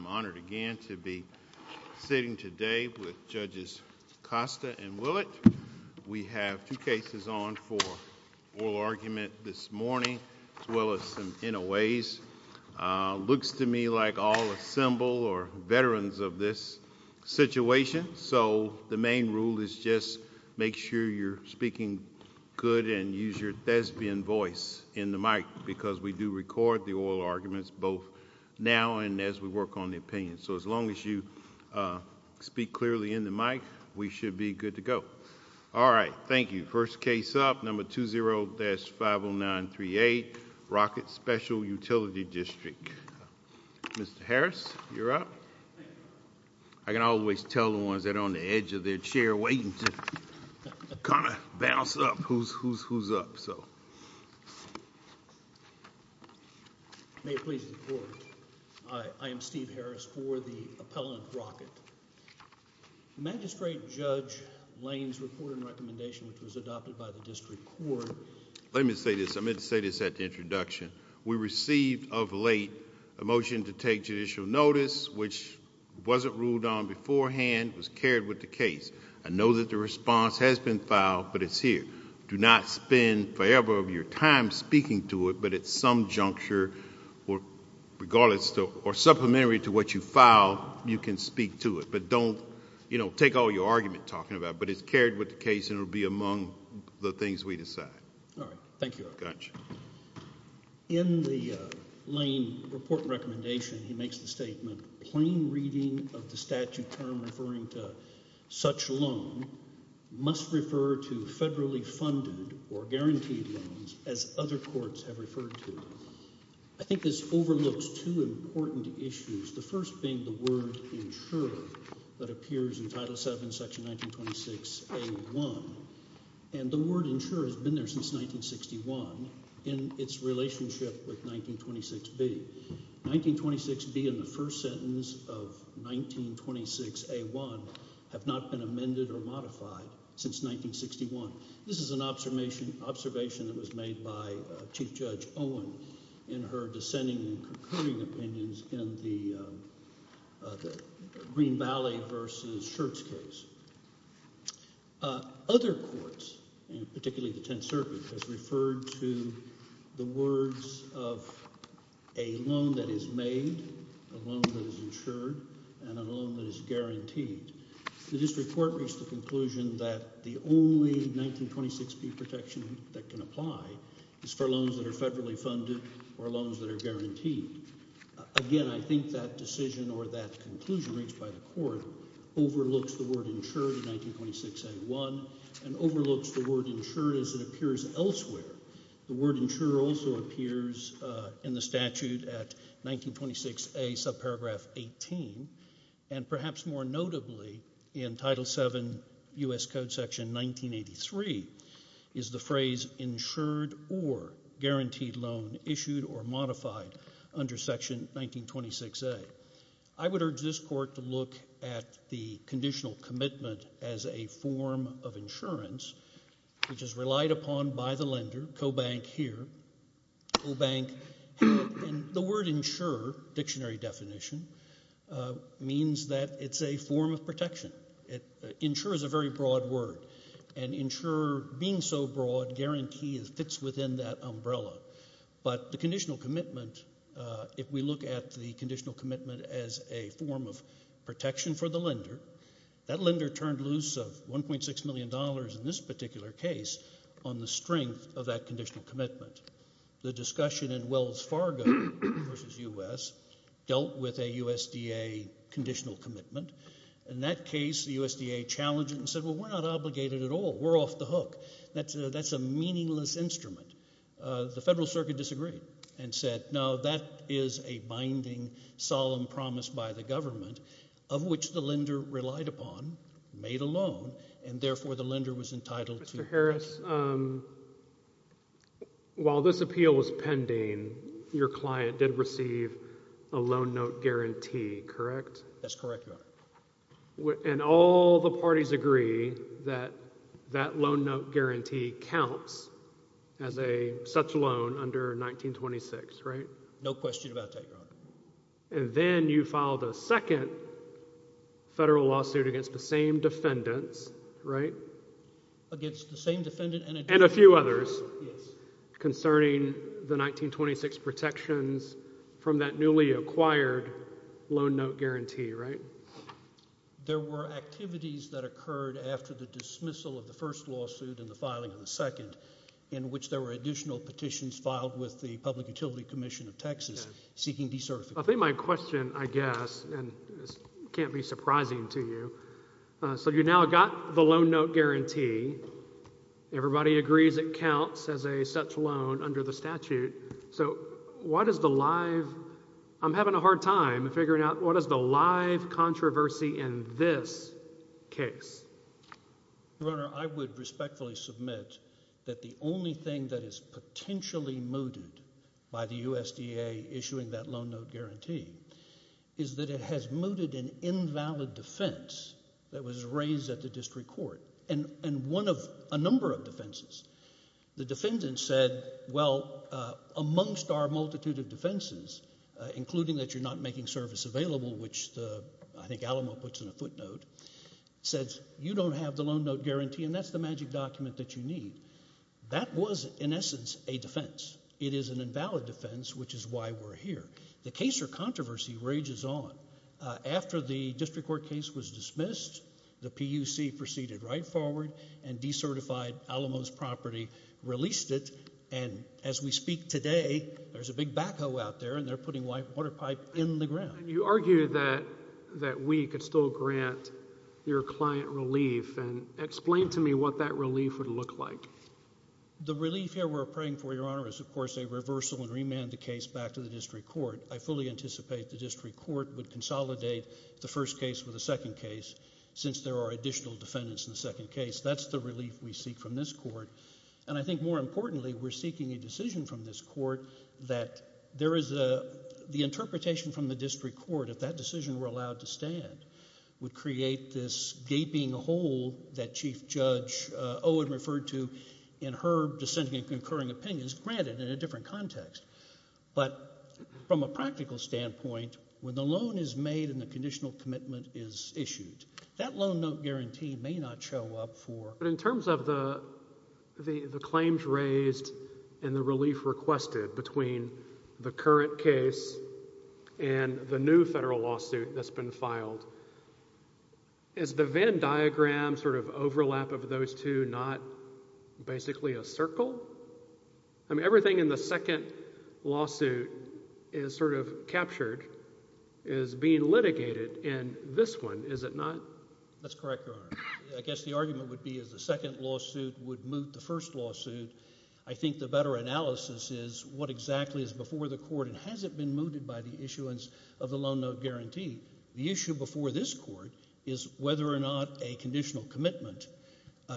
I'm honored again to be sitting today with Judges Costa and Willett. We have two cases on for oral argument this morning, as well as some NOAs. Looks to me like all assemble or veterans of this situation, so the main rule is just make sure you're speaking good and use your thespian voice in the mic because we do record the oral arguments both now and as we work on the opinions. So as long as you speak clearly in the mic, we should be good to go. All right, thank you. First case up, number 20-50938, Rocket Special Utility District. Mr. Harris, you're up. I can always tell the ones that are on the edge of their seats. I am Steve Harris for the appellant, Rocket. Magistrate Judge Lane's report and recommendation, which was adopted by the district court... Let me say this. I meant to say this at the introduction. We received of late a motion to take judicial notice, which wasn't ruled on beforehand. It was carried with the case. I know that the response has been filed, but it's here. Do not spend forever of your time speaking to it, but at some juncture or supplementary to what you file, you can speak to it. But don't take all your argument talking about it, but it's carried with the case and it will be among the things we decide. All right, thank you. In the Lane report and recommendation, he makes the statement, plain reading of the statute term referring to such a loan must refer to federally funded or I think this overlooks two important issues. The first being the word insurer that appears in Title 7, Section 1926A1. And the word insurer has been there since 1961 in its relationship with 1926B. 1926B and the first sentence of 1926A1 have not been amended or modified since 1961. This is an observation that was made by Chief Judge Owen in her dissenting and concluding opinions in the Green Valley v. Schertz case. Other courts, particularly the Tenth Circuit, has referred to the words of a loan that is made, a loan that is insured, and a loan that is guaranteed. The district court reached the conclusion that the only 1926B protection that can apply is for loans that are federally funded or loans that are guaranteed. Again, I think that decision or that conclusion reached by the court overlooks the word insured in 1926A1 and overlooks the word insured as it appears elsewhere. The word insurer also appears in the statute at 1926A, subparagraph 18, and perhaps more notably in Title 7, U.S. Code, Section 1983, is the phrase insured or guaranteed loan issued or modified under Section 1926A. I would urge this court to look at the conditional commitment as a form of insurance which is relied upon by the lender, Co-Bank here. The word insurer, dictionary definition, means that it's a form of protection. Insure is a very broad word, and insurer being so broad, guarantee fits within that umbrella. But the conditional commitment, if we look at the conditional commitment as a form of protection for the lender, that lender turned loose of $1.6 million in this particular case on the strength of that conditional commitment. The discussion in Wells Fargo versus U.S. dealt with a USDA conditional commitment. In that case, the USDA challenged it and said, well, we're not obligated at all. We're off the hook. That's a meaningless instrument. The Federal Circuit disagreed and said, no, that is a binding, solemn promise by the government of which the lender relied upon, made a loan, and therefore the lender was entitled to. Mr. Harris, while this appeal was pending, your client did receive a loan note guarantee, correct? That's correct, Your Honor. And all the parties agree that that loan note guarantee counts as such a loan under 1926, right? No question about that, Your Honor. And then you filed a second federal lawsuit against the same defendants, right? Against the same defendant and a few others, concerning the 1926 protections from that newly acquired loan note guarantee, right? There were activities that occurred after the dismissal of the first lawsuit and the filing of the second in which there were additional petitions filed with the Public Utility Commission of Texas seeking decertification. I think my question, I guess, and this can't be surprising to you. So you now got the loan note guarantee. Everybody agrees it counts as a such loan under the statute. So what is the live? I'm having a hard time figuring out what is the live controversy in this case. Your Honor, I would respectfully submit that the only thing that is potentially mooted by the USDA issuing that loan note guarantee is that it has mooted an invalid defense that was raised at the district court and one of a number of defenses. The defendant said, well, amongst our multitude of defenses, including that you're not making service available, which I think Alamo puts in a footnote, says you don't have the loan note guarantee and that's the magic document that you need. That was, in essence, a defense. It is an invalid defense, which is why we're here. The case or controversy rages on. After the district court case was dismissed, the PUC proceeded right forward and decertified Alamo's property, released it, and as we speak today, there's a big backhoe out there and they're putting white water pipe in the ground. You argue that we could still grant your client relief and explain to me what that relief would look like. The relief here we're praying for, Your Honor, is of course a reversal and remand the case back to the district court. I fully anticipate the district court would consolidate the first case with the second case since there are additional defendants in the second case. That's the relief we seek from this court and I think more importantly, we're seeking a decision from this court that there is a, the interpretation from the district court, if that decision were allowed to stand, would create this gaping hole that Chief Judge Owen referred to in her dissenting and concurring opinions, granted in a different context, but from a practical standpoint, when the loan is made and the conditional commitment is issued, that loan note guarantee may not show up for. But in terms of the, the claims raised and the relief requested between the current case and the new federal lawsuit that's been filed, is the Venn diagram sort of overlap of those two not basically a circle? I mean, everything in the second lawsuit is sort of captured, is being litigated in this one, is it not? That's correct, Your Honor. I guess the argument would be is the second lawsuit would moot the first lawsuit. I think the better analysis is what exactly is before the court and has it been mooted by the issuance of the loan note guarantee. The issue before this court is whether or not a conditional commitment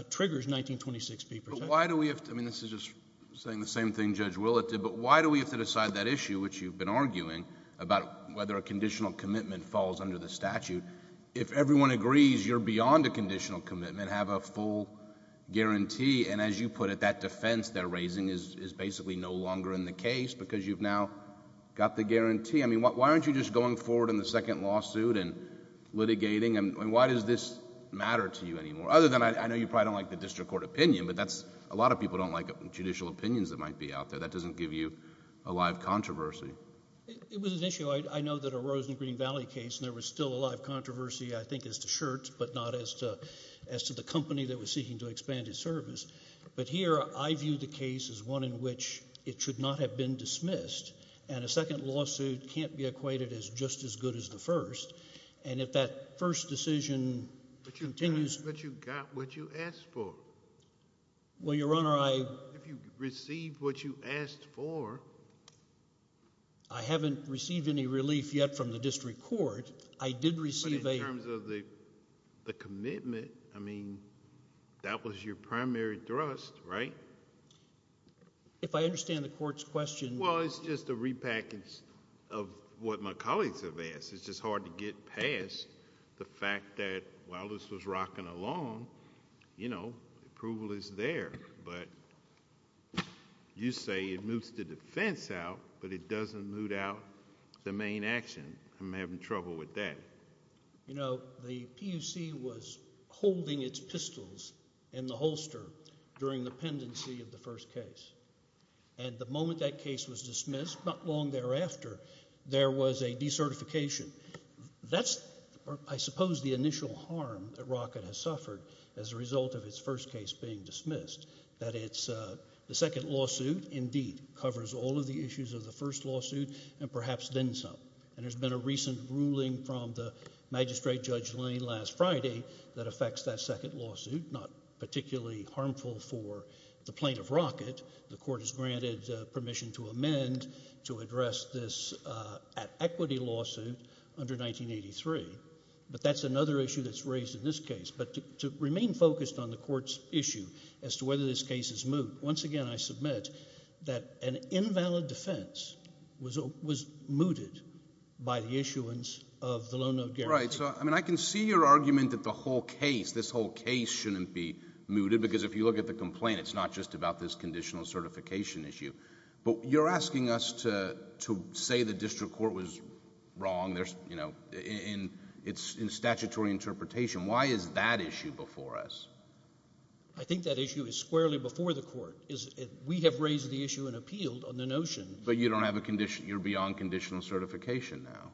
triggers 1926B. But why do we have to, I mean, this is just saying the same thing Judge Willett did, but why do we have to set aside that issue which you've been arguing about whether a conditional commitment falls under the statute? If everyone agrees you're beyond a conditional commitment, have a full guarantee, and as you put it, that defense they're raising is basically no longer in the case because you've now got the guarantee. I mean, why aren't you just going forward in the second lawsuit and litigating, and why does this matter to you anymore? Other than I know you probably don't like the district court opinion, but that's, a lot of people don't like judicial opinions that doesn't give you a live controversy. It was an issue, I know that a Rosen Green Valley case, and there was still a live controversy, I think, as to Schertz, but not as to the company that was seeking to expand its service. But here, I view the case as one in which it should not have been dismissed, and a second lawsuit can't be equated as just as good as the first, and if that first decision continues... But you got what you asked for. Well, Your Honor, I... If you received what you asked for... I haven't received any relief yet from the district court. I did receive a... But in terms of the commitment, I mean, that was your primary thrust, right? If I understand the court's question... Well, it's just a repackage of what my colleagues have asked. It's just hard to get past the fact that while this was rocking along, you know, approval is there, but you say it moves the defense out, but it doesn't move out the main action. I'm having trouble with that. You know, the PUC was holding its pistols in the holster during the pendency of the first case, and the moment that case was dismissed, not long thereafter, there was a decertification. That's, I suppose, the initial harm that Rocket has suffered as a result of its first case being dismissed. That it's... The second lawsuit, indeed, covers all of the issues of the first lawsuit, and perhaps then some. And there's been a recent ruling from the magistrate, Judge Lane, last Friday that affects that second lawsuit, not particularly harmful for the plaintiff, Rocket. The court has granted permission to amend to address this equity lawsuit under 1983. But that's another issue that's raised in this case, to remain focused on the court's issue as to whether this case is moot. Once again, I submit that an invalid defense was mooted by the issuance of the loan note guarantee. Right. So, I mean, I can see your argument that the whole case, this whole case shouldn't be mooted, because if you look at the complaint, it's not just about this conditional certification issue. But you're asking us to say the district court was wrong, you know, in statutory interpretation. Why is that issue before us? I think that issue is squarely before the court. Is... We have raised the issue and appealed on the notion... But you don't have a condition. You're beyond conditional certification now.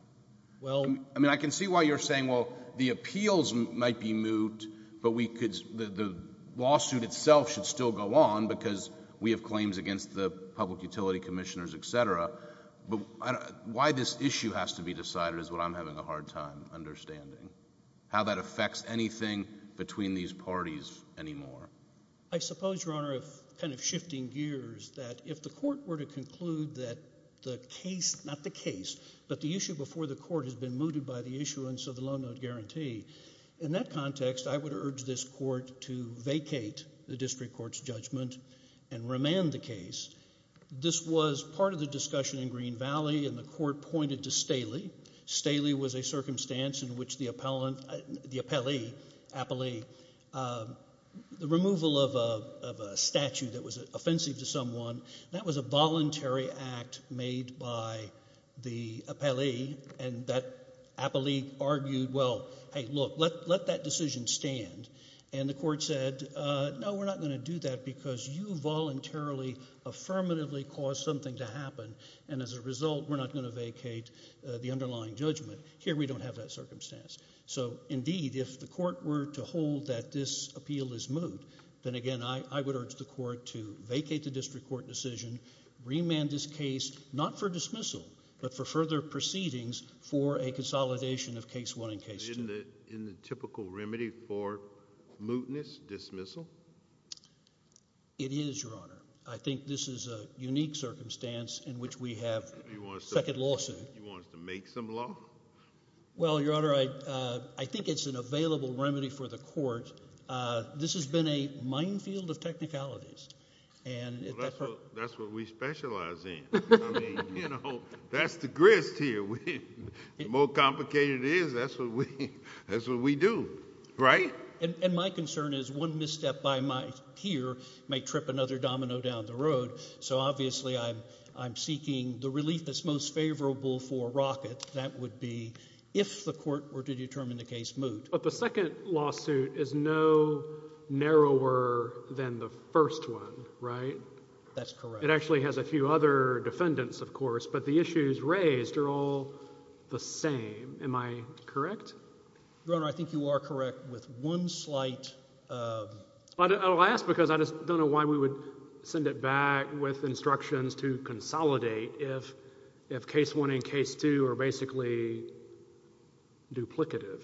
Well... I mean, I can see why you're saying, well, the appeals might be moot, but we could... The lawsuit itself should still go on, because we have claims against the public utility commissioners, et cetera. But why this issue has to be decided is what I'm having a hard time understanding. How that affects anything between these parties anymore. I suppose, Your Honor, of kind of shifting gears, that if the court were to conclude that the case... not the case, but the issue before the court has been mooted by the issuance of the loan note guarantee, in that context, I would urge this court to vacate the district court's judgment and remand the case. This was part of the discussion in Green Valley, and the court pointed to Staley. Staley was a circumstance in which the appellee, the removal of a statute that was offensive to someone, that was a voluntary act made by the appellee, and that appellee argued, well, hey, look, let that decision stand. And the court said, no, we're not going to do that, because you voluntarily, affirmatively caused something to happen, and as a result, we're not going to vacate the underlying judgment. Here, we don't have that circumstance. So, indeed, if the court were to hold that this appeal is moot, then again, I would urge the court to vacate the district court decision, remand this case, not for dismissal, but for further proceedings for a consolidation of case one and case two. In the typical remedy for mootness, dismissal? It is, Your Honor. I think this is a unique circumstance in which we have a second lawsuit. You want us to make some law? Well, Your Honor, I think it's an available remedy for the court. This has been a minefield of technicalities. That's what we specialize in. I mean, you know, that's the grist here. The more complicated it is, that's what we do, right? And my concern is, one misstep by my peer may trip another domino down the road. So, obviously, I'm seeking the relief that's most favorable for Rockett. That would be if the court were to determine the case moot. But the second lawsuit is no narrower than the first one, right? That's correct. It actually has a few other defendants, of course, but the issues raised are all the same. Am I correct? Your Honor, I think you are correct with one slight... I ask because I just don't know why we would send it back with instructions to consolidate if case one and case two are basically duplicative.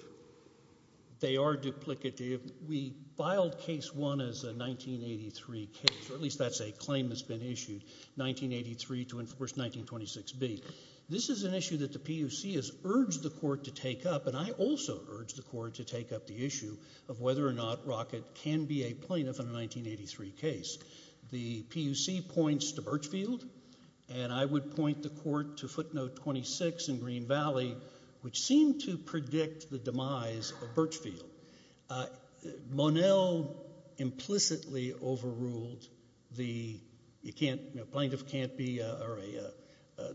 They are duplicative. We filed case one as a 1983 case, or at least that's a claim that's been issued, 1983 to enforce 1926B. This is an issue that the PUC has urged the court to take up, and I also urge the court to take up the issue of whether or not Rockett can be a plaintiff in a 1983 case. The PUC points to Birchfield, and I would point the court to footnote 26 in Green Valley, which seemed to predict the demise of Birchfield. Monel implicitly overruled the claim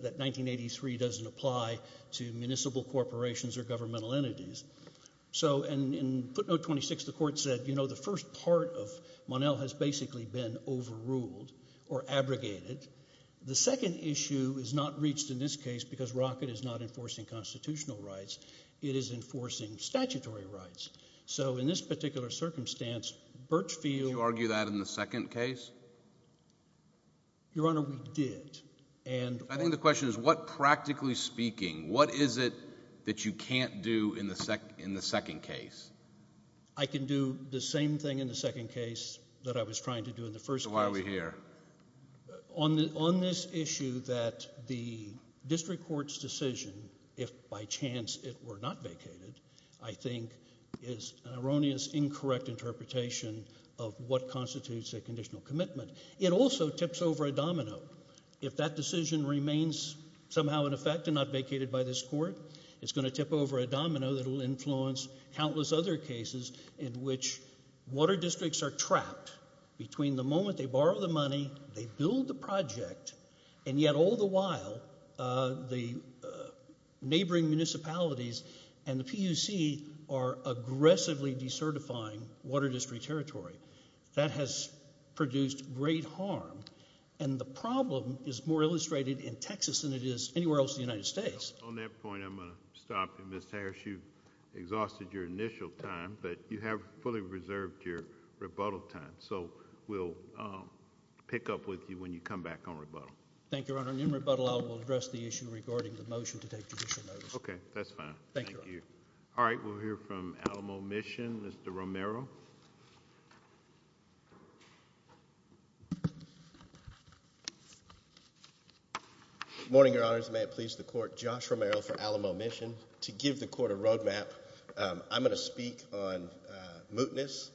that 1983 doesn't apply to municipal corporations or governmental entities. So in footnote 26, the court said, you know, the first part of Monel has basically been overruled or abrogated. The second issue is not reached in this case because Rockett is not enforcing constitutional rights. It is enforcing statutory rights. So in this particular circumstance, Birchfield... Did you argue that in the second case? Your Honor, we did, and... I think the question is what, practically speaking, what is it that you can't do in the second case? I can do the same thing in the second case that I was trying to do in the first case. So why are we here? On this issue that the district court's decision, if by chance it were not vacated, I think is an erroneous, incorrect interpretation of what constitutes a conditional commitment. It also tips over a domino. If that decision remains somehow in effect and not vacated by this court, it's going to tip over a domino that will influence countless other cases in which water districts are trapped between the moment they borrow the money, they build the project, and yet all the while the neighboring municipalities and the PUC are aggressively decertifying water district territory. That has produced great harm, and the problem is more illustrated in Texas than it is anywhere else in the United States. On that point, I'm going to stop you, Mr. Harris. You've exhausted your initial time, but you have fully reserved your time. We'll pick up with you when you come back on rebuttal. Thank you, Your Honor. In rebuttal, I will address the issue regarding the motion to take judicial notice. Okay, that's fine. Thank you. All right, we'll hear from Alamo Mission, Mr. Romero. Good morning, Your Honors. May it please the Court, Josh Romero for Alamo Mission. To give the Court a roadmap, I'm going to speak on mootness.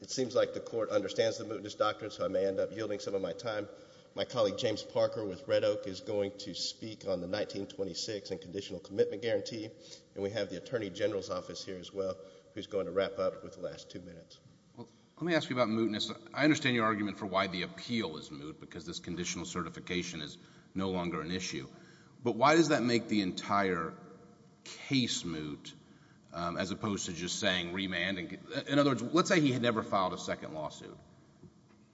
It seems like the Court understands the mootness doctrine, so I may end up yielding some of my time. My colleague James Parker with Red Oak is going to speak on the 1926 and Conditional Commitment Guarantee, and we have the Attorney General's Office here as well, who's going to wrap up with the last two minutes. Well, let me ask you about mootness. I understand your argument for why the appeal is moot, because this conditional certification is no longer an issue, but why does that make the entire case moot, as opposed to just saying remand? In other words, let's say he had never filed a second lawsuit.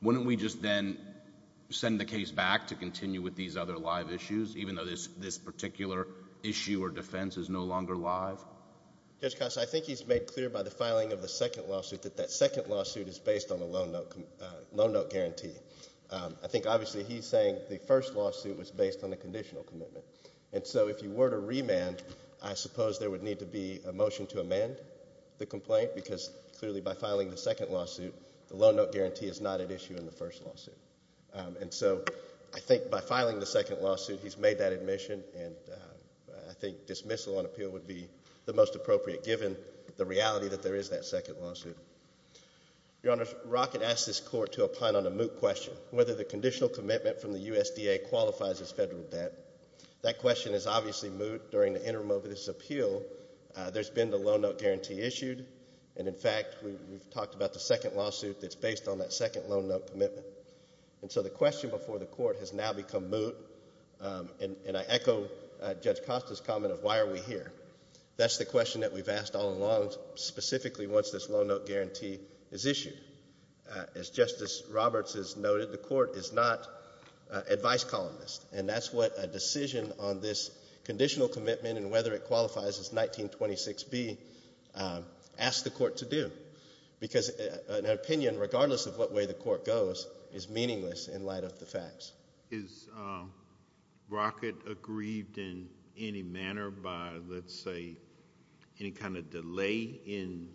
Wouldn't we just then send the case back to continue with these other live issues, even though this particular issue or defense is no longer live? Judge Costa, I think he's made clear by the filing of the second lawsuit that that second lawsuit is not an issue. I think, obviously, he's saying the first lawsuit was based on a conditional commitment, and so if you were to remand, I suppose there would need to be a motion to amend the complaint, because, clearly, by filing the second lawsuit, the loan note guarantee is not at issue in the first lawsuit. And so I think by filing the second lawsuit, he's made that admission, and I think dismissal on appeal would be the most appropriate, given the reality that there is that second lawsuit. Your Honor, Rockett asked this Court to opine on a moot question, whether the conditional commitment from the USDA qualifies as federal debt. That question is obviously moot. During the interim of this appeal, there's been the loan note guarantee issued, and, in fact, we've talked about the second lawsuit that's based on that second loan note commitment. And so the question before the Court has now become moot, and I echo Judge Costa's comment of why are we here. That's the question that we've asked all along, specifically once this loan note guarantee is issued. As Justice Roberts has noted, the Court is not an advice columnist, and that's what a decision on this conditional commitment and whether it qualifies as 1926B asks the Court to do, because an opinion, regardless of what way the Court goes, is meaningless in light of the facts. Is Rockett aggrieved in any manner by, let's say, any kind of delay in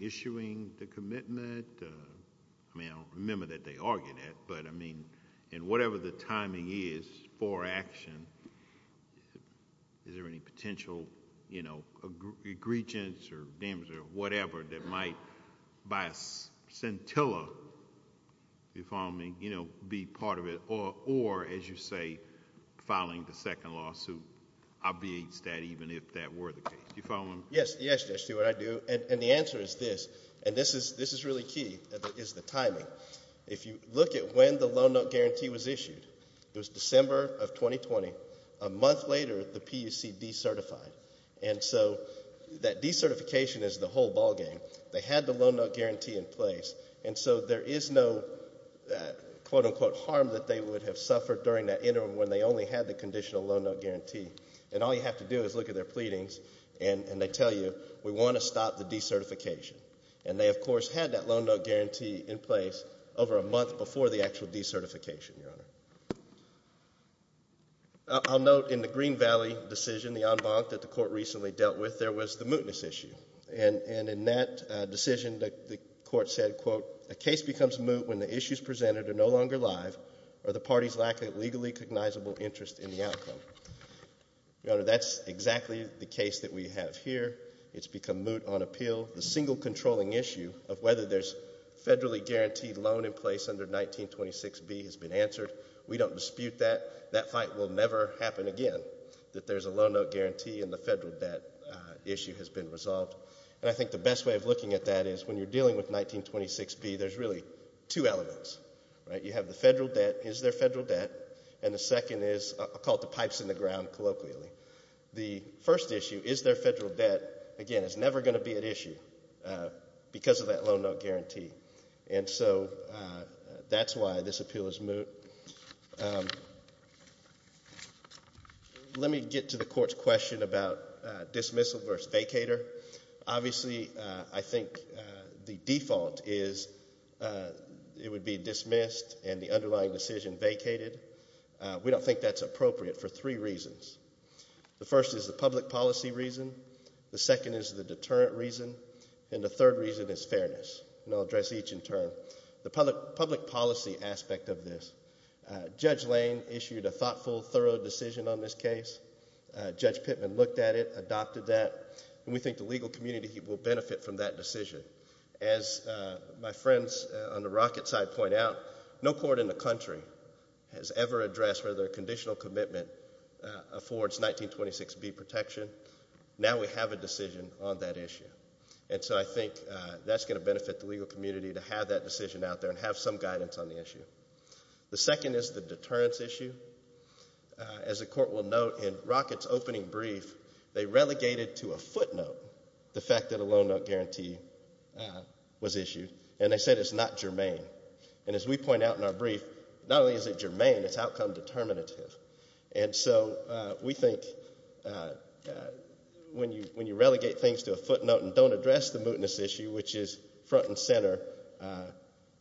issuing the commitment? I mean, I don't remember that they argued that, but, I mean, in whatever the timing is for action, is there any potential egregious or damage or whatever that might, by a scintilla, you follow me, be part of it? Or, as you say, filing the second lawsuit obviates that, even if that were the case. Do you follow me? Yes, yes, Judge Stewart, I do. And the answer is this, and this is really key, is the timing. If you look at when the loan note guarantee was issued, it was December of 2020. A month later, the PUC decertified. And so that decertification is the whole ballgame. They had the loan note during that interim when they only had the conditional loan note guarantee. And all you have to do is look at their pleadings, and they tell you, we want to stop the decertification. And they, of course, had that loan note guarantee in place over a month before the actual decertification, Your Honor. I'll note in the Green Valley decision, the en banc that the Court recently dealt with, there was the mootness issue. And in that decision, the Court said, a case becomes moot when the issues presented are no longer live or the parties lack a legally cognizable interest in the outcome. Your Honor, that's exactly the case that we have here. It's become moot on appeal. The single controlling issue of whether there's federally guaranteed loan in place under 1926B has been answered. We don't dispute that. That fight will never happen again, that there's a loan note guarantee and the federal debt issue has been resolved. And I think the best way of looking at that is when you're dealing with 1926B, there's really two elements, right? You have the federal debt, is there federal debt? And the second is, I'll call it the pipes in the ground, colloquially. The first issue, is there federal debt? Again, it's never going to be an issue because of that loan note guarantee. And so that's why this appeal is moot. Let me get to the Court's question about dismissal versus vacator. Obviously, I think the default is it would be dismissed and the underlying decision vacated. We don't think that's appropriate for three reasons. The first is the public policy reason. The second is the deterrent reason. And the third reason is fairness. And I'll address each in turn. The public policy aspect of this. Judge Lane issued a thoughtful, thorough decision on this case. Judge Pittman looked at it, adopted that. And we think the legal community will benefit from that decision. As my friends on the Rocket side point out, no court in the country has ever addressed whether a conditional commitment affords 1926B protection. Now we have a decision on that out there and have some guidance on the issue. The second is the deterrence issue. As the Court will note, in Rocket's opening brief, they relegated to a footnote the fact that a loan note guarantee was issued. And they said it's not germane. And as we point out in our brief, not only is it germane, it's outcome determinative. And so we think when you relegate things to a footnote,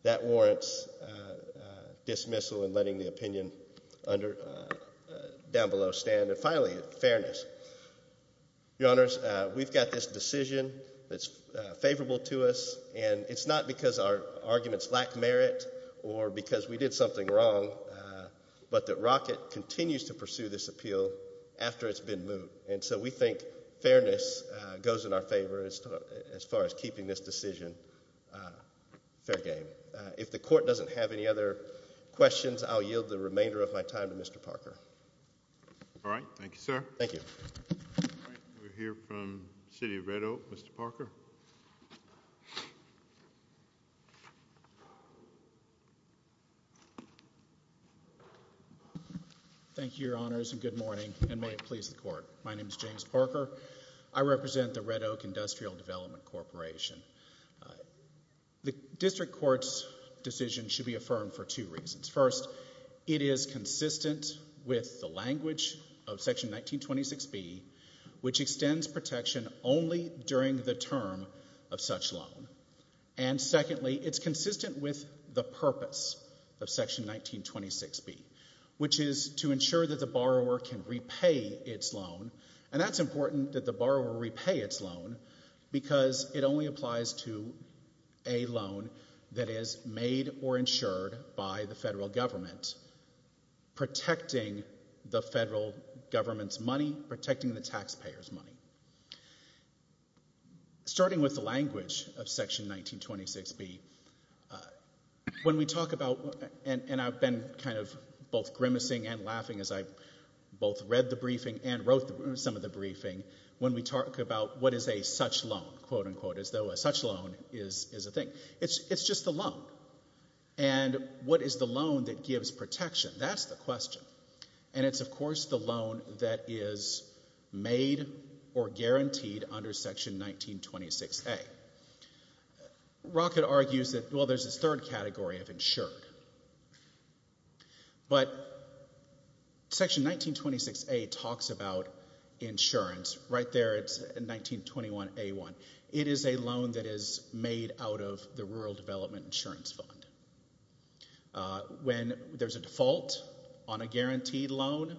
that warrants dismissal and letting the opinion down below stand. And finally, fairness. Your Honors, we've got this decision that's favorable to us. And it's not because our arguments lack merit or because we did something wrong, but that Rocket continues to pursue this appeal after it's been moved. And so we think fairness goes in our favor as far as keeping this decision fair game. If the Court doesn't have any other questions, I'll yield the remainder of my time to Mr. Parker. All right. Thank you, sir. Thank you. We'll hear from the City of Red Oak. Mr. Parker. Thank you, Your Honors, and good morning, and may it please the Court. My name is David Parker. I'm the Chief Justice of the City of Red Oak. And I'm here to speak to you today about Section 1926B, which extends protection only during the term of such loan. And secondly, it's consistent with the purpose of Section 1926B, which is to ensure that the borrower can repay its loan. And that's important that the borrower repay its loan, because it only applies to a loan that is made or insured by the federal government, protecting the federal government's money, protecting the taxpayer's money. Starting with the language of Section 1926B, when we talk about—and I've been kind of both grimacing and laughing as I both read the briefing and wrote some of the briefing—when we talk about what is a such loan, quote-unquote, as though a such loan is a thing. It's just a loan. And what is the loan that gives protection? That's the question. And it's, of course, the loan that is made or guaranteed under Section 1926A. Rockett argues that, well, there's this third category of insured. But Section 1926A talks about insurance. Right there, it's 1921A1. It is a loan that is made out of the Rural Development Insurance Fund. When there's a default on a guaranteed loan,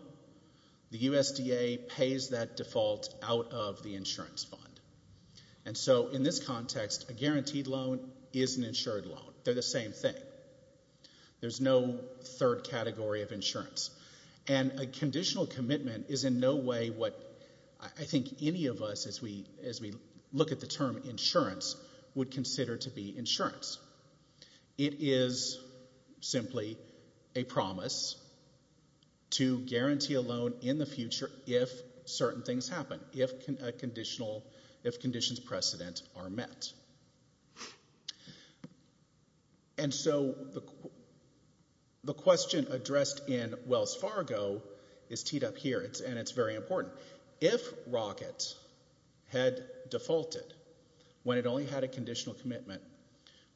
the USDA pays that default out of the insurance fund. And so in this context, a guaranteed loan is an insured loan. They're the same thing. There's no third category of insurance. And a conditional commitment is in no way what I think any of us, as we look at the term insurance, would consider to be insurance. It is simply a promise to guarantee a loan in the future if certain things happen, if conditions precedent are met. And so the question addressed in Wells Fargo is teed up here, and it's very important. If Rockett had defaulted when it only had a conditional commitment,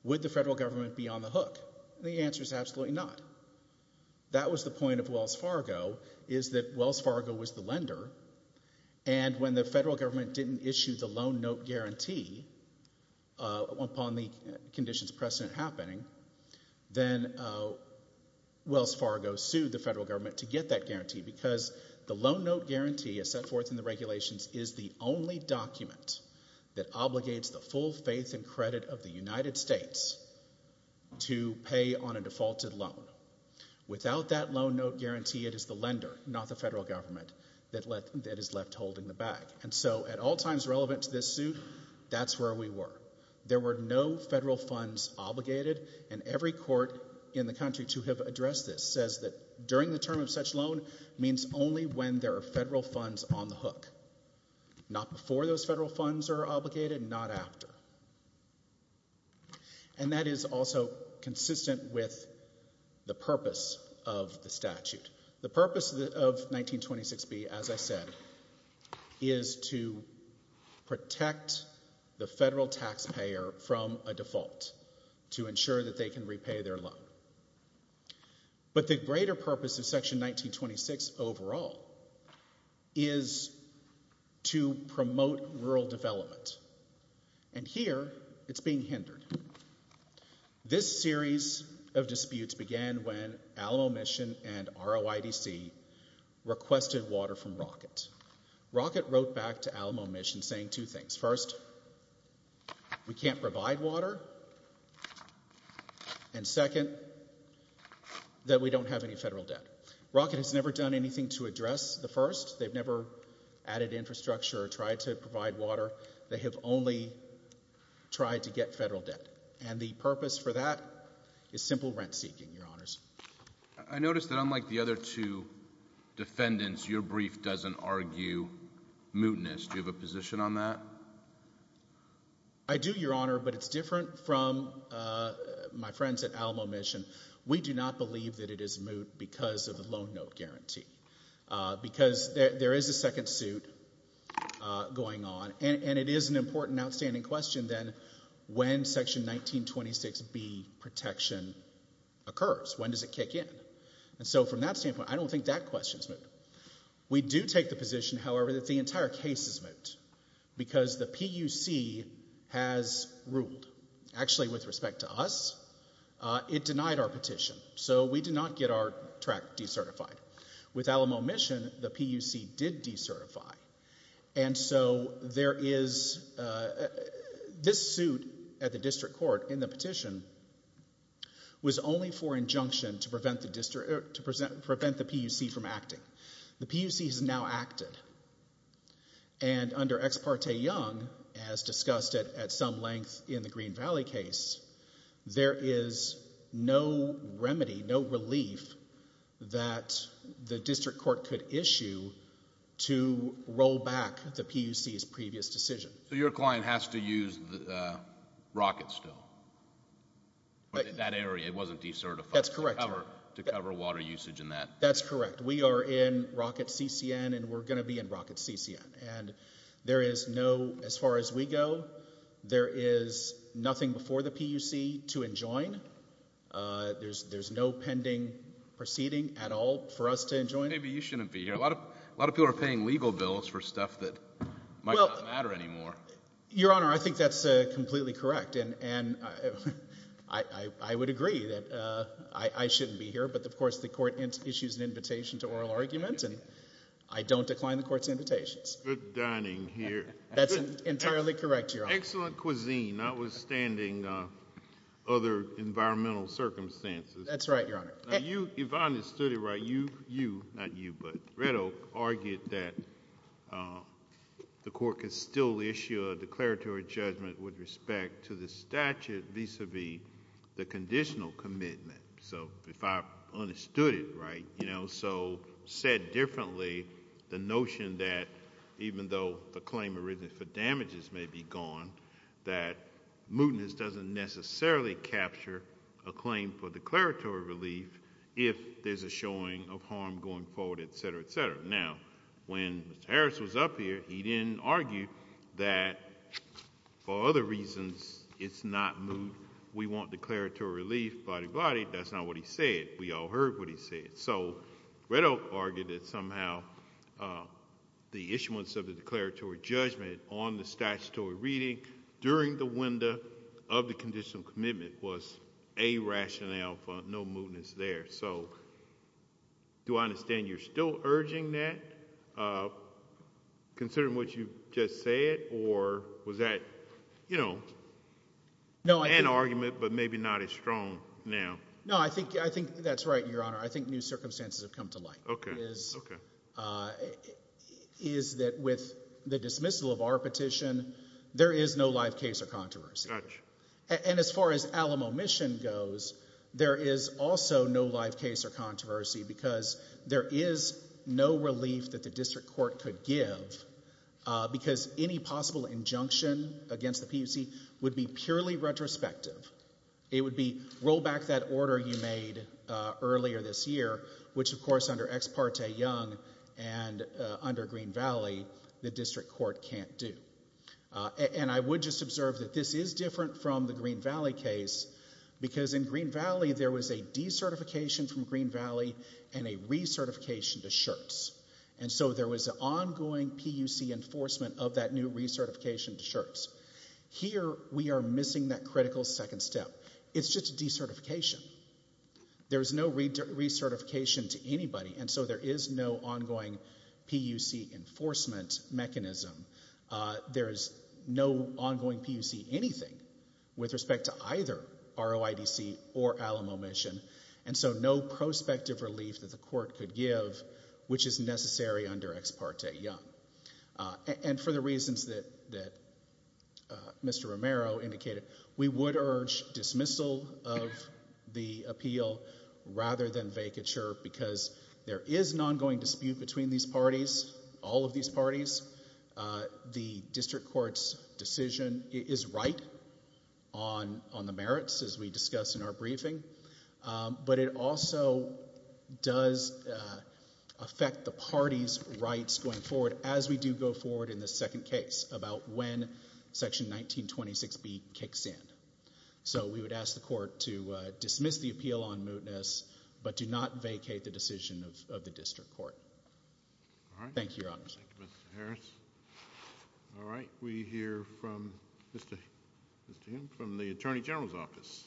would the federal government be on the hook? The answer is absolutely not. That was the point of Wells Fargo, is that it's a lender, and when the federal government didn't issue the loan note guarantee upon the conditions precedent happening, then Wells Fargo sued the federal government to get that guarantee, because the loan note guarantee as set forth in the regulations is the only document that obligates the full faith and credit of the United States to pay on a defaulted loan. Without that loan note guarantee, it is the lender, not the federal government, that is left holding the bag. And so at all times relevant to this suit, that's where we were. There were no federal funds obligated, and every court in the country to have addressed this says that during the term of such loan means only when there are federal funds on the hook, not before those federal funds are obligated, not after. And that is also consistent with the purpose of the statute. The purpose of 1926B, as I said, is to protect the federal taxpayer from a default, to ensure that they can repay their loan. But the greater purpose of section 1926 overall is to promote rural development, and here it's being hindered. This series of disputes began when Alamo Mission and ROIDC requested water from Rocket. Rocket wrote back to Alamo Mission saying two things. First, we can't provide water, and second, that we don't have any federal debt. Rocket has never done anything to address the first. They've never added infrastructure or tried to provide water. They have only tried to get federal debt, and the purpose for that is simple rent seeking, your honors. I noticed that unlike the other two defendants, your brief doesn't argue mootness. Do you have a position on that? I do, your honor, but it's different from my friends at Alamo Mission. We do not believe that it is moot because of the loan note guarantee, because there is a second suit going on, and it is an important outstanding question then when section 1926B protection occurs. When does it kick in? And so from that standpoint, I don't think that question is moot. We do take the position, however, that the entire case is moot because the PUC has ruled. Actually, with respect to us, it denied our petition, so we did not get our track decertified. With Alamo Mission, the PUC did decertify, and so there is, this suit at the district court in the petition was only for injunction to prevent the district, to prevent the PUC from acting. The PUC has now acted, and under Ex parte Young, as discussed at some length in the Green Valley case, there is no remedy, no relief that the district court could issue to roll back the PUC's previous decision. So your client has to use the rocket still, that area. It wasn't decertified. That's correct. To cover water usage in that. That's correct. We are in rocket CCN, and we're going to be in rocket CCN, and there is no, as far as we go, there is nothing before the PUC to enjoin. There's no pending proceeding at all for us to enjoin. Maybe you shouldn't be here. A lot of people are paying legal bills for stuff that might not matter anymore. Your Honor, I think that's completely correct, and I would agree that I shouldn't be here, but of course the court issues an invitation to oral argument, and I don't decline the court's invitations. Good dining here. That's entirely correct, Your Honor. Excellent cuisine, notwithstanding other environmental circumstances. That's right, Your Honor. If I understood it right, you, not you, but Red Oak, argued that the court could still issue a declaratory judgment with respect to the statute vis-a-vis the conditional commitment. So if I understood it right, you know, so said differently, the notion that even though the claim originally for damages may be gone, that mootness doesn't necessarily capture a claim for declaratory relief if there's a showing of harm going forward, etc., etc. Now, when Mr. Harris was up here, he didn't argue that for other reasons it's not moot. We want declaratory relief, body, body. That's not what he said. We all heard what he said. So Red Oak argued that somehow the issuance of the declaratory judgment on the statutory reading during the window of the conditional commitment was a rationale for no mootness there. So do I understand you're still urging that, considering what you just said, or was that, you know, an argument but maybe not as strong now? No, I think that's right, Your Honor. I think new circumstances have come to light. Okay. Is that with the dismissal of our petition, there is no live case or controversy. And as far as Alamo Mission goes, there is also no live case or controversy because there is no relief that the district court could give because any possible injunction against the PUC would be purely retrospective. It would be, roll back that order you made earlier this year, which, of course, under Ex Parte Young and under Green Valley, the district court can't do. And I would just observe that this is different from the Green Valley case because in Green Valley, there was a decertification from Green Valley and a recertification to Schertz. And so there was an ongoing PUC enforcement of that new recertification to Schertz. Here, we are missing that critical second step. It's just a decertification. There's no recertification to anybody, and so there is no ongoing PUC enforcement mechanism. There is no ongoing PUC anything with respect to either ROIDC or Alamo Mission, and so no prospective relief that the court could give, which is necessary under Ex Parte Young. And for the reasons that Mr. Romero indicated, we would urge dismissal of the appeal rather than vacature because there is an ongoing dispute between these parties, all of these parties. The district court's decision is right on the merits, as we discussed in our briefing, but it also does affect the parties' rights going forward as we do go forward in this second case about when Section 1926B kicks in. So we would ask the court to dismiss the appeal on mootness but do not vacate the decision of the district court. All right. Thank you, Your Honors. Thank you, Mr. Harris. All right. We hear from Mr. Hill from the Attorney General's office.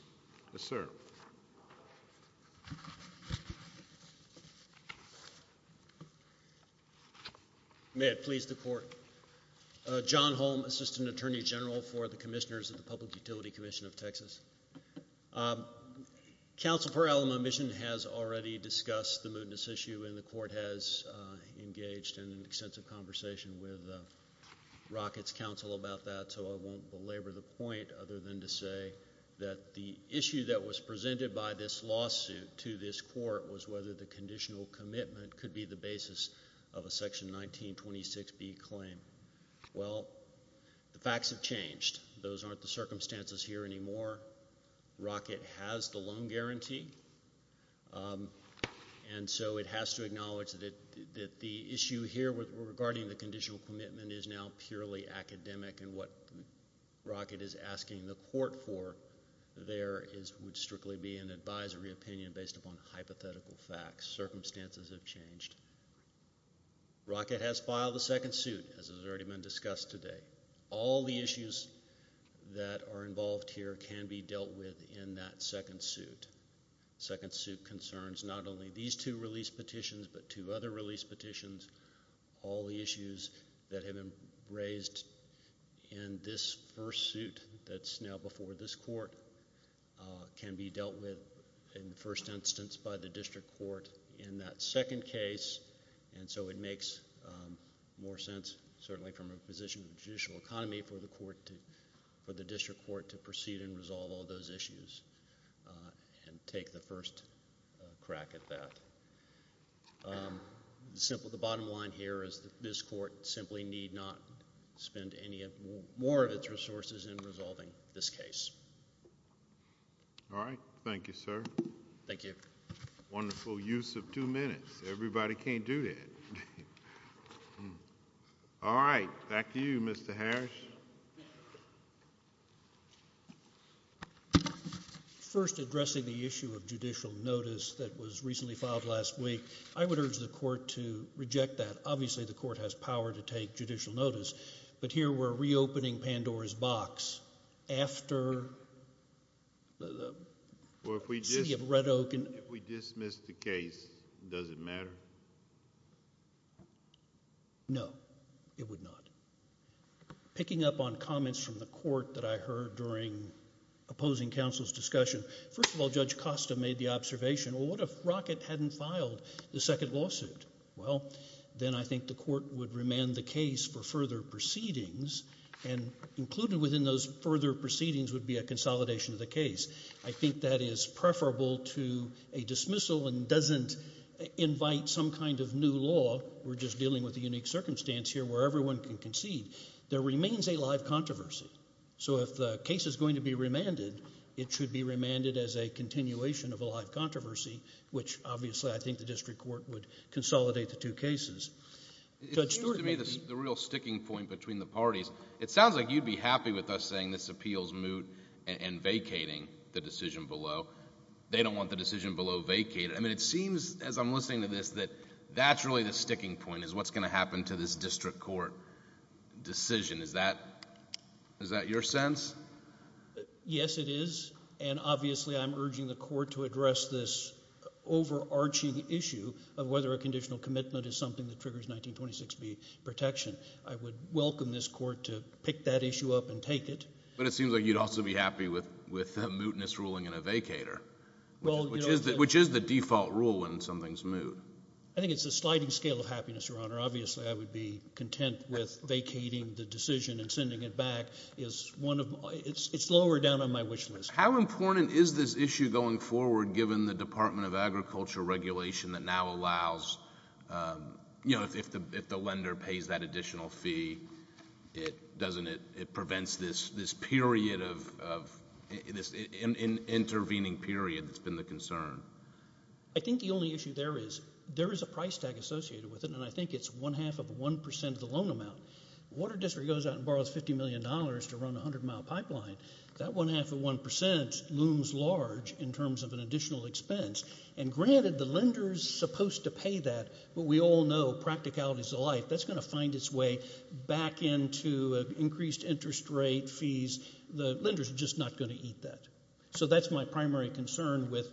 Yes, sir. May it please the court. John Holm, Assistant Attorney General for the Commissioners of the Public Utility Commission of Texas. Council for Alamo Mission has already discussed the mootness issue and the court has engaged in an extensive conversation with Rocket's counsel about that, so I won't belabor the point other than to say that the issue that was presented by this lawsuit to this court was whether the conditional commitment could be the basis of a Section 1926B claim. Well, the facts have changed. Those aren't the circumstances here anymore. Rocket has the loan guarantee, and so it has to acknowledge that the issue here regarding the conditional commitment is now purely academic, and what Rocket is asking the court for there would strictly be an advisory opinion based upon hypothetical facts. Circumstances have changed. Rocket has filed a second suit, as has already been discussed today. All the issues that are involved here can be dealt with in that second suit. Second suit concerns not only these two release petitions, but two other release petitions. All the issues that have been raised in this first suit that's now before this court can be dealt with in the first instance by the district court in that second case, and so it makes more sense, certainly from a position of the district court, to proceed and resolve all those issues and take the first crack at that. The bottom line here is that this court simply need not spend any more of its resources in resolving this case. All right. Thank you, sir. Thank you. Wonderful use of two minutes. Everybody can't do that. All right. Back to you, Mr. Harris. Thank you. First, addressing the issue of judicial notice that was recently filed last week, I would urge the court to reject that. Obviously, the court has power to take judicial notice, but here we're reopening Pandora's Box after the city of Red Oak and— No, it would not. Picking up on comments from the court that I heard during opposing counsel's discussion, first of all, Judge Costa made the observation, well, what if Rockett hadn't filed the second lawsuit? Well, then I think the court would remand the case for further proceedings, and included within those further proceedings would be a consolidation of the case. I think that is preferable to a dismissal and doesn't invite somebody to come forward with some kind of new law. We're just dealing with a unique circumstance here where everyone can concede. There remains a live controversy, so if the case is going to be remanded, it should be remanded as a continuation of a live controversy, which, obviously, I think the district court would consolidate the two cases. It seems to me the real sticking point between the parties, it sounds like you'd be happy with us saying this appeals moot and vacating the decision below. They don't want the decision below vacated. I mean, it seems, as I'm listening to this, that that's really the sticking point, is what's going to happen to this district court decision. Is that your sense? Yes, it is, and obviously, I'm urging the court to address this overarching issue of whether a conditional commitment is something that triggers 1926B protection. I would welcome this court to pick that issue up and take it. But it seems like you'd also be happy with a mootness ruling and a vacator, which is the default rule when something's moot. I think it's a sliding scale of happiness, Your Honor. Obviously, I would be content with vacating the decision and sending it back. It's lower down on my wish list. How important is this issue going forward, given the Department of Agriculture regulation that now allows, you know, if the lender pays that additional fee, it doesn't, it prevents this period of, this intervening period that's been the concern? I think the only issue there is, there is a price tag associated with it, and I think it's one-half of 1% of the loan amount. Water District goes out and borrows $50 million to run a 100-mile pipeline. That one-half of 1% looms large in terms of an additional expense, and granted, the lender's supposed to pay that, but we all know, practicalities of life, that's going to find its way back into increased interest rate fees. The lender's just not going to eat that. So that's my primary concern with,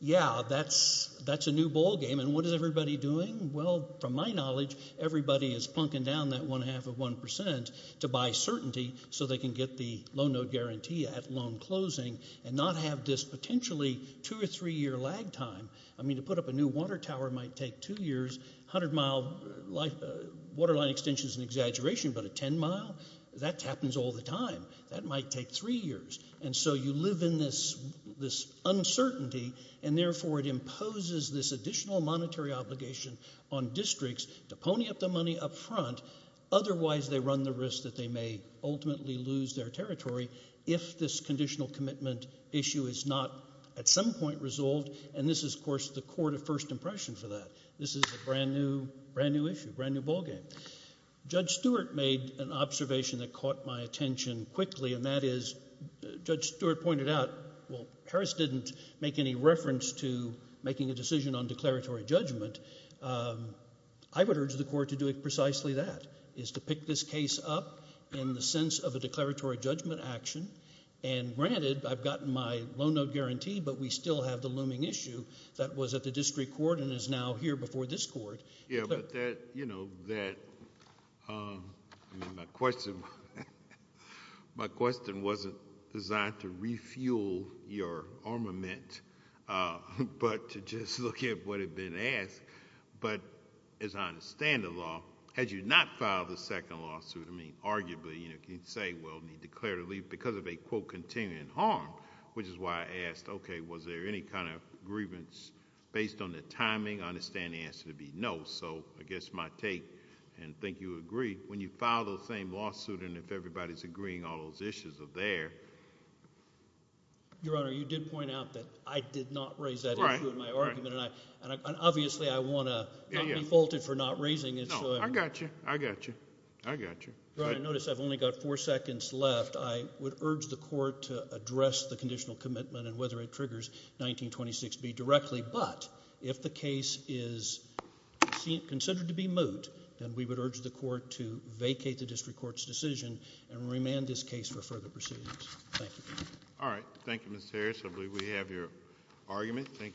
yeah, that's a new ballgame, and what is everybody doing? Well, from my knowledge, everybody is plunking down that one-half of 1% to buy certainty so they can get the loan note guarantee at loan closing and not have this potentially two- or three-year lag time. I mean, to put up a new water tower might take two years. 100-mile waterline extension is an exaggeration, but a 10-mile, that happens all the time. That might take three years, and so you live in this uncertainty, and therefore, it imposes this additional monetary obligation on districts to pony up the money up front. Otherwise, they run the risk that they may ultimately lose their territory if this conditional commitment issue is not, at some point, resolved, and this is, of course, the court of first impression for that. This is a brand new issue, brand new ballgame. Judge Stewart made an observation that caught my attention quickly, and that is, Judge Stewart pointed out, well, Harris didn't make any reference to making a decision on declaratory judgment. I would urge the court to do precisely that, is to pick this case up in the sense of a declaratory judgment action, and granted, I've gotten my loan note guarantee, but we still have the looming issue that was at the district court and is now here for this court. Yeah, but that, you know, that, I mean, my question wasn't designed to refuel your armament, but to just look at what had been asked, but as I understand the law, had you not filed the second lawsuit, I mean, arguably, you know, you'd say, well, I need declaratory relief because of a, quote, continuing harm, which is why I asked, okay, was there any kind of grievance based on the timing, I understand the answer to be no, so I guess my take and think you agree, when you file the same lawsuit, and if everybody's agreeing all those issues are there. Your Honor, you did point out that I did not raise that issue in my argument, and I, and obviously, I want to not be faulted for not raising it. No, I got you, I got you, I got you. Your Honor, notice I've only got four seconds left. I would urge the court to address the conditional commitment and whether it triggers 1926B directly, but if the case is considered to be moot, then we would urge the court to vacate the district court's decision and remand this case for further proceedings. Thank you. All right. Thank you, Mr. Harris. I believe we have your argument. Thank you.